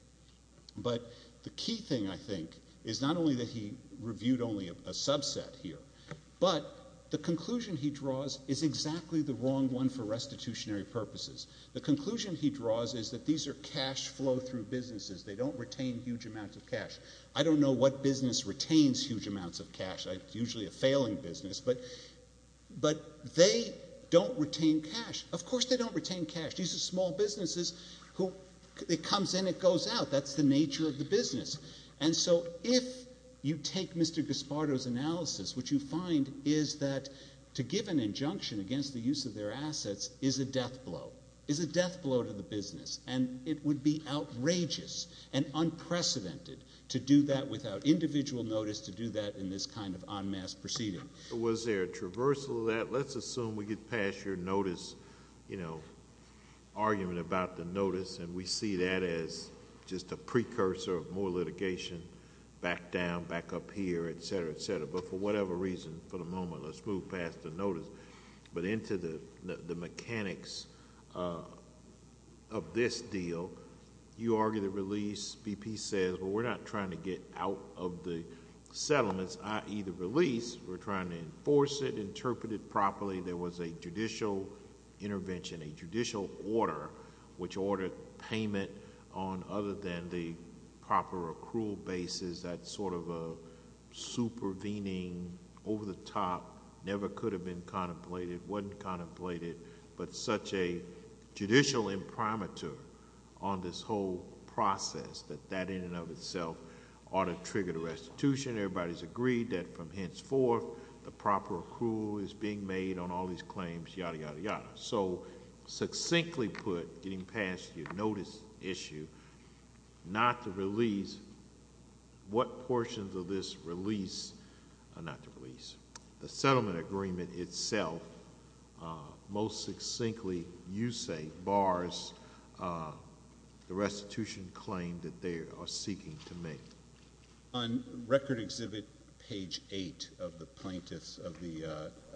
But the key thing, I think, is not only that he reviewed only a subset here, but the conclusion he draws is exactly the wrong one for restitutionary purposes. The conclusion he draws is that these are cash flow-through businesses. They don't retain huge amounts of cash. I don't know what business retains huge amounts of cash. It's usually a failing business. But they don't retain cash. Of course they don't retain cash. These are small businesses who it comes in, it goes out. That's the nature of the business. And so if you take Mr. Gaspardo's analysis, what you find is that to give an injunction against the use of their assets is a death blow, is a death blow to the business. And it would be outrageous and unprecedented to do that without individual notice, to do that in this kind of en masse proceeding. Was there a traversal of that? Let's assume we get past your notice, you know, argument about the notice, and we see that as just a precursor of more litigation back down, back up here, et cetera, et cetera. But for whatever reason, for the moment, let's move past the notice. But into the mechanics of this deal, you argue the release. BP says, well, we're not trying to get out of the settlements, i.e., the release. We're trying to enforce it, interpret it properly. There was a judicial intervention, a judicial order, which ordered payment on other than the proper accrual basis, that sort of a supervening, over-the-top, never could have been contemplated, wasn't contemplated, but such a judicial imprimatur on this whole process, that that in and of itself ought to trigger the restitution. Everybody's agreed that from henceforth the proper accrual is being made on all these claims, yada, yada, yada. So succinctly put, getting past your notice issue, not to release, what portions of this release are not to release? The settlement agreement itself most succinctly, you say, bars the restitution claim that they are seeking to make. On Record Exhibit page 8 of the plaintiff's, of the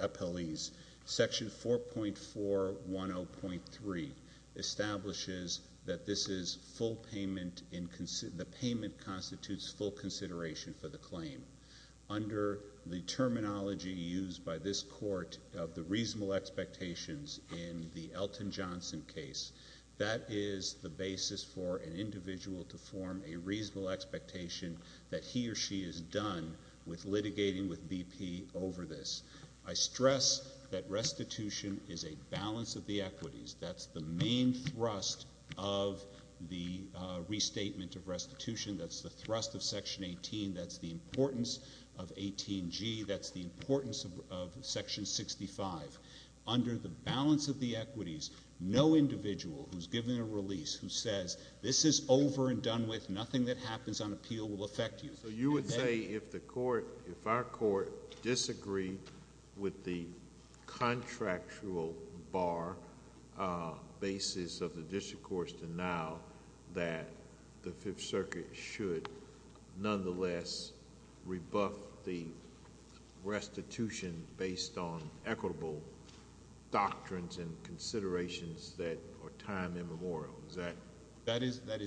appellee's, Section 4.410.3 establishes that this is full payment in, the payment constitutes full consideration for the claim. Under the terminology used by this court of the reasonable expectations in the Elton Johnson case, that is the basis for an individual to form a reasonable expectation that he or she is done with litigating with BP over this. I stress that restitution is a balance of the equities. That's the main thrust of the restatement of restitution. That's the thrust of Section 18. That's the importance of 18G. That's the importance of Section 65. Under the balance of the equities, no individual who's given a release who says, this is over and done with, nothing that happens on appeal will affect you. So you would say if the court, if our court disagreed with the contractual bar basis of the district courts to now that the Fifth Circuit should nonetheless rebuff the restitution based on equitable doctrines and considerations that are time immemorial. Is that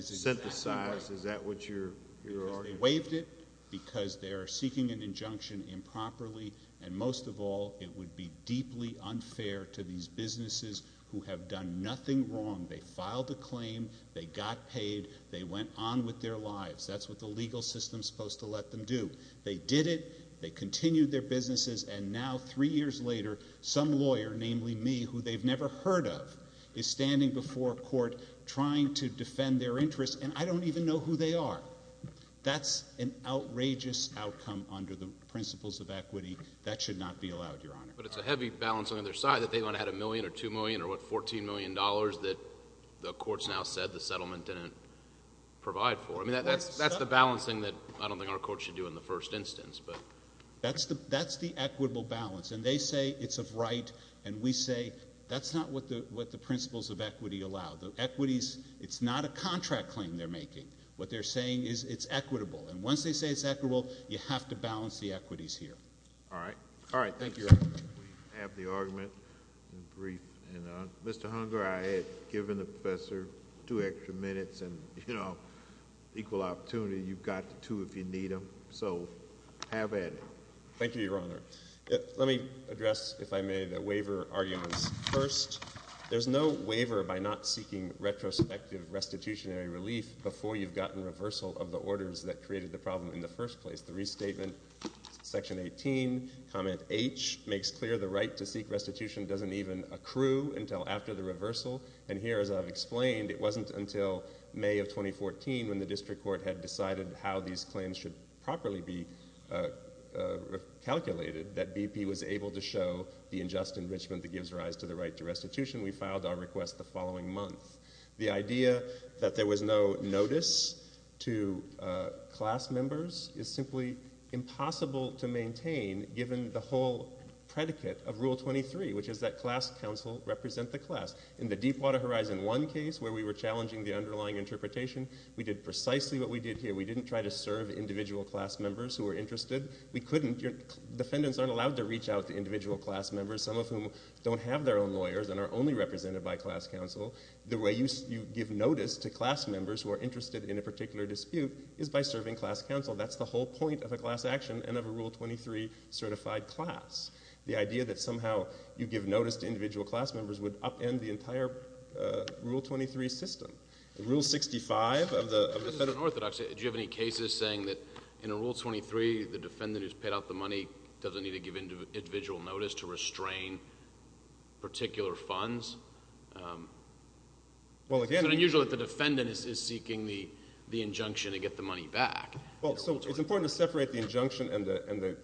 synthesized? Is that what you're arguing? They waived it because they are seeking an injunction improperly, and most of all it would be deeply unfair to these businesses who have done nothing wrong. They filed the claim. They got paid. They went on with their lives. That's what the legal system is supposed to let them do. They did it. They continued their businesses. And now three years later, some lawyer, namely me, who they've never heard of, is standing before a court trying to defend their interests, and I don't even know who they are. That's an outrageous outcome under the principles of equity. That should not be allowed, Your Honor. But it's a heavy balance on the other side that they might have had a million or two million or, what, $14 million that the courts now said the settlement didn't provide for. I mean, that's the balancing that I don't think our courts should do in the first instance. That's the equitable balance. And they say it's of right, and we say that's not what the principles of equity allow. The equities, it's not a contract claim they're making. What they're saying is it's equitable. And once they say it's equitable, you have to balance the equities here. All right. All right. Thank you, Your Honor. We have the argument in brief. And, Mr. Hunger, I had given the professor two extra minutes and, you know, equal opportunity. You've got the two if you need them. So have at it. Thank you, Your Honor. Let me address, if I may, the waiver arguments first. There's no waiver by not seeking retrospective restitutionary relief before you've gotten reversal of the orders that created the problem in the first place. The restatement, Section 18, Comment H, makes clear the right to seek restitution doesn't even accrue until after the reversal. And here, as I've explained, it wasn't until May of 2014, when the district court had decided how these claims should properly be calculated, that BP was able to show the unjust enrichment that gives rise to the right to restitution. We filed our request the following month. The idea that there was no notice to class members is simply impossible to maintain given the whole predicate of Rule 23, which is that class counsel represent the class. In the Deepwater Horizon 1 case, where we were challenging the underlying interpretation, we did precisely what we did here. We didn't try to serve individual class members who were interested. We couldn't. Defendants aren't allowed to reach out to individual class members, some of whom don't have their own lawyers and are only represented by class counsel. The way you give notice to class members who are interested in a particular dispute is by serving class counsel. That's the whole point of a class action and of a Rule 23 certified class. The idea that somehow you give notice to individual class members would upend the entire Rule 23 system. Rule 65 of the Federal— This is unorthodox. Do you have any cases saying that in a Rule 23, the defendant who's paid out the money doesn't need to give individual notice to restrain particular funds? Well, again— It's unusual that the defendant is seeking the injunction to get the money back. Well, so it's important to separate the injunction and the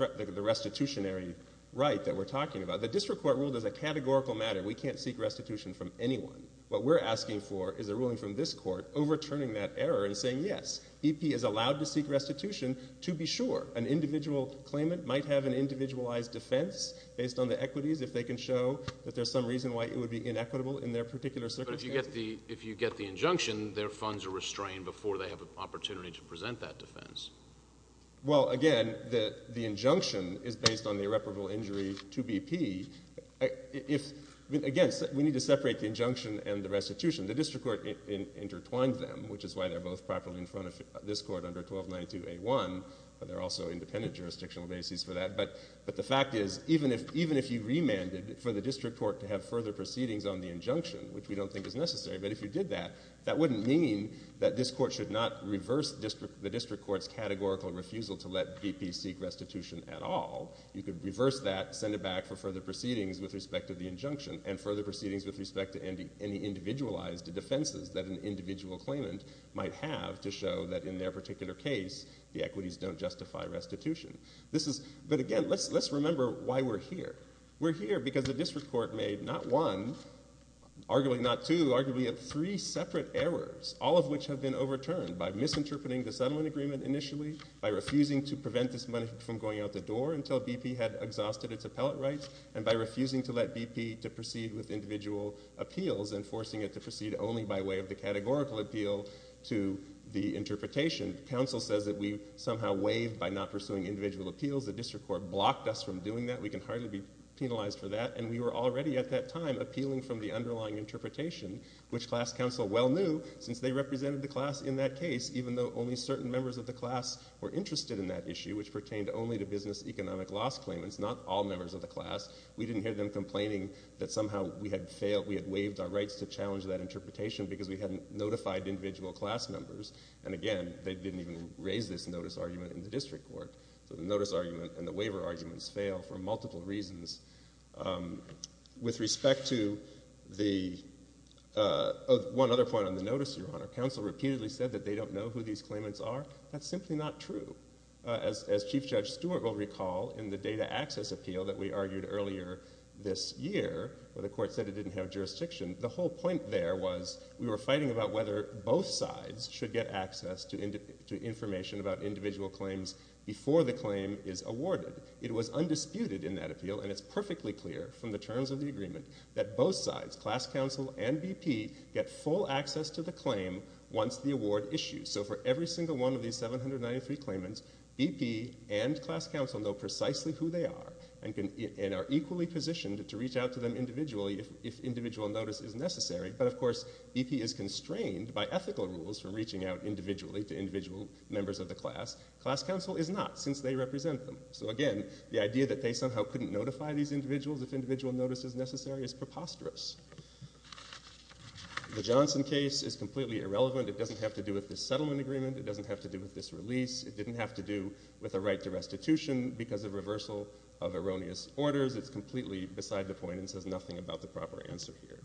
restitutionary right that we're talking about. The district court ruled as a categorical matter we can't seek restitution from anyone. What we're asking for is a ruling from this court overturning that error and saying, yes, EP is allowed to seek restitution to be sure. An individual claimant might have an individualized defense based on the equities if they can show that there's some reason why it would be inequitable in their particular circumstance. But if you get the injunction, their funds are restrained before they have an opportunity to present that defense. Well, again, the injunction is based on the irreparable injury to BP. Again, we need to separate the injunction and the restitution. The district court intertwined them, which is why they're both properly in front of this court under 1292A1. But there are also independent jurisdictional bases for that. But the fact is, even if you remanded for the district court to have further proceedings on the injunction, which we don't think is necessary, but if you did that, that wouldn't mean that this court should not reverse the district court's categorical refusal to let BP seek restitution at all. You could reverse that, send it back for further proceedings with respect to the injunction and further proceedings with respect to any individualized defenses that an individual claimant might have to show that in their particular case, the equities don't justify restitution. But again, let's remember why we're here. We're here because the district court made not one, arguably not two, arguably three separate errors, all of which have been overturned by misinterpreting the settlement agreement initially, by refusing to prevent this money from going out the door until BP had exhausted its appellate rights, and by refusing to let BP to proceed with individual appeals and forcing it to proceed only by way of the categorical appeal to the interpretation. Council says that we somehow waived by not pursuing individual appeals. The district court blocked us from doing that. We can hardly be penalized for that, and we were already at that time appealing from the underlying interpretation, which class counsel well knew, since they represented the class in that case, even though only certain members of the class were interested in that issue, which pertained only to business economic loss claimants, not all members of the class. We didn't hear them complaining that somehow we had failed, we had waived our rights to challenge that interpretation because we hadn't notified individual class members. And again, they didn't even raise this notice argument in the district court. So the notice argument and the waiver arguments fail for multiple reasons. With respect to the one other point on the notice, Your Honor, counsel repeatedly said that they don't know who these claimants are. That's simply not true. As Chief Judge Stewart will recall in the data access appeal that we argued earlier this year, where the court said it didn't have jurisdiction, the whole point there was we were fighting about whether both sides should get access to information about individual claims before the claim is awarded. It was undisputed in that appeal, and it's perfectly clear from the terms of the agreement, that both sides, class counsel and BP, get full access to the claim once the award issues. So for every single one of these 793 claimants, BP and class counsel know precisely who they are and are equally positioned to reach out to them individually if individual notice is necessary. But of course, BP is constrained by ethical rules from reaching out individually to individual members of the class. Class counsel is not, since they represent them. So again, the idea that they somehow couldn't notify these individuals if individual notice is necessary is preposterous. The Johnson case is completely irrelevant. It doesn't have to do with this settlement agreement. It doesn't have to do with this release. It didn't have to do with a right to restitution because of reversal of erroneous orders. It's completely beside the point and says nothing about the proper answer here.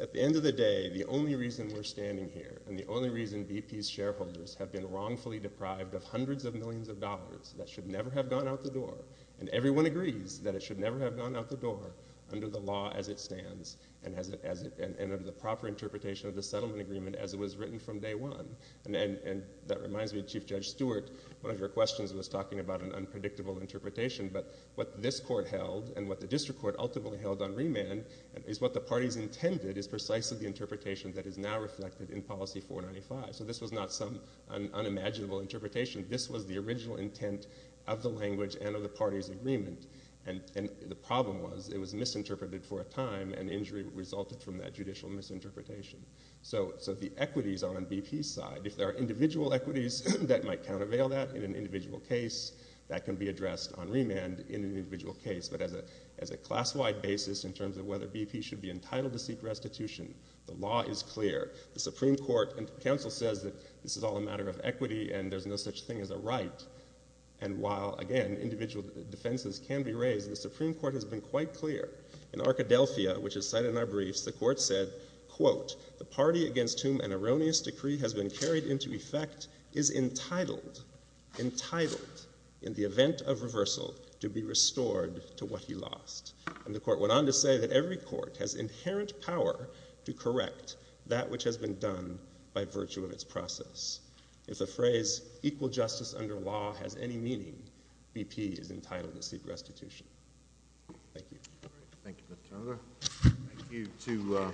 At the end of the day, the only reason we're standing here and the only reason BP's shareholders have been wrongfully deprived of hundreds of millions of dollars that should never have gone out the door, and everyone agrees that it should never have gone out the door under the law as it stands and under the proper interpretation of the settlement agreement as it was written from day one, and that reminds me of Chief Judge Stewart. One of your questions was talking about an unpredictable interpretation, but what this court held and what the district court ultimately held on remand is what the parties intended is precisely the interpretation that is now reflected in Policy 495. So this was not some unimaginable interpretation. This was the original intent of the language and of the parties' agreement, and the problem was it was misinterpreted for a time and injury resulted from that judicial misinterpretation. So the equities are on BP's side. If there are individual equities that might countervail that in an individual case, that can be addressed on remand in an individual case, but as a class-wide basis in terms of whether BP should be entitled to seek restitution, the law is clear. The Supreme Court and counsel says that this is all a matter of equity and there's no such thing as a right, and while, again, individual defenses can be raised, the Supreme Court has been quite clear. In Arkadelphia, which is cited in our briefs, the court said, quote, the party against whom an erroneous decree has been carried into effect is entitled, entitled, in the event of reversal to be restored to what he lost. And the court went on to say that every court has inherent power to correct that which has been done by virtue of its process. If the phrase equal justice under law has any meaning, BP is entitled to seek restitution. Thank you. Thank you, Mr. Turner. Thank you to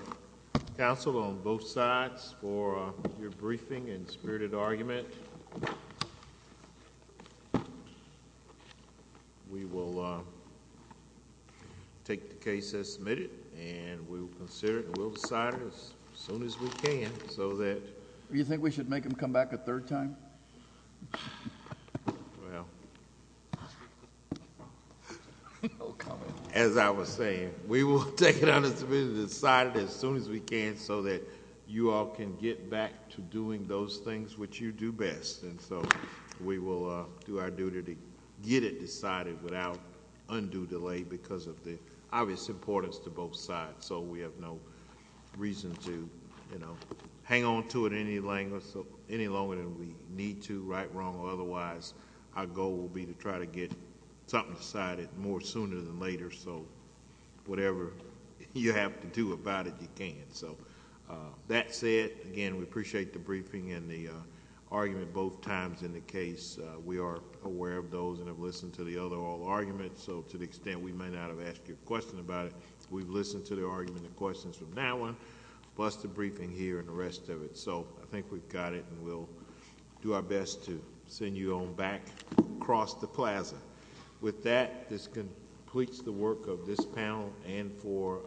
counsel on both sides for your briefing and spirited argument. We will take the case as submitted, and we will consider it and we'll decide it as soon as we can so that... Do you think we should make him come back a third time? Well... As I was saying, we will take it as it's been decided as soon as we can so that you all can get back to doing those things which you do best. And so we will do our duty to get it decided without undue delay because of the obvious importance to both sides so we have no reason to hang on to it any longer than we need to, right, wrong, or otherwise. Our goal will be to try to get something decided more sooner than later so whatever you have to do about it, you can. So that said, again, we appreciate the briefing and the argument both times in the case. We are aware of those and have listened to the other oral arguments so to the extent we may not have asked you a question about it, we've listened to the argument and questions from that one plus the briefing here and the rest of it. So I think we've got it and we'll do our best to send you on back across the plaza. With that, this completes the work of this panel and for...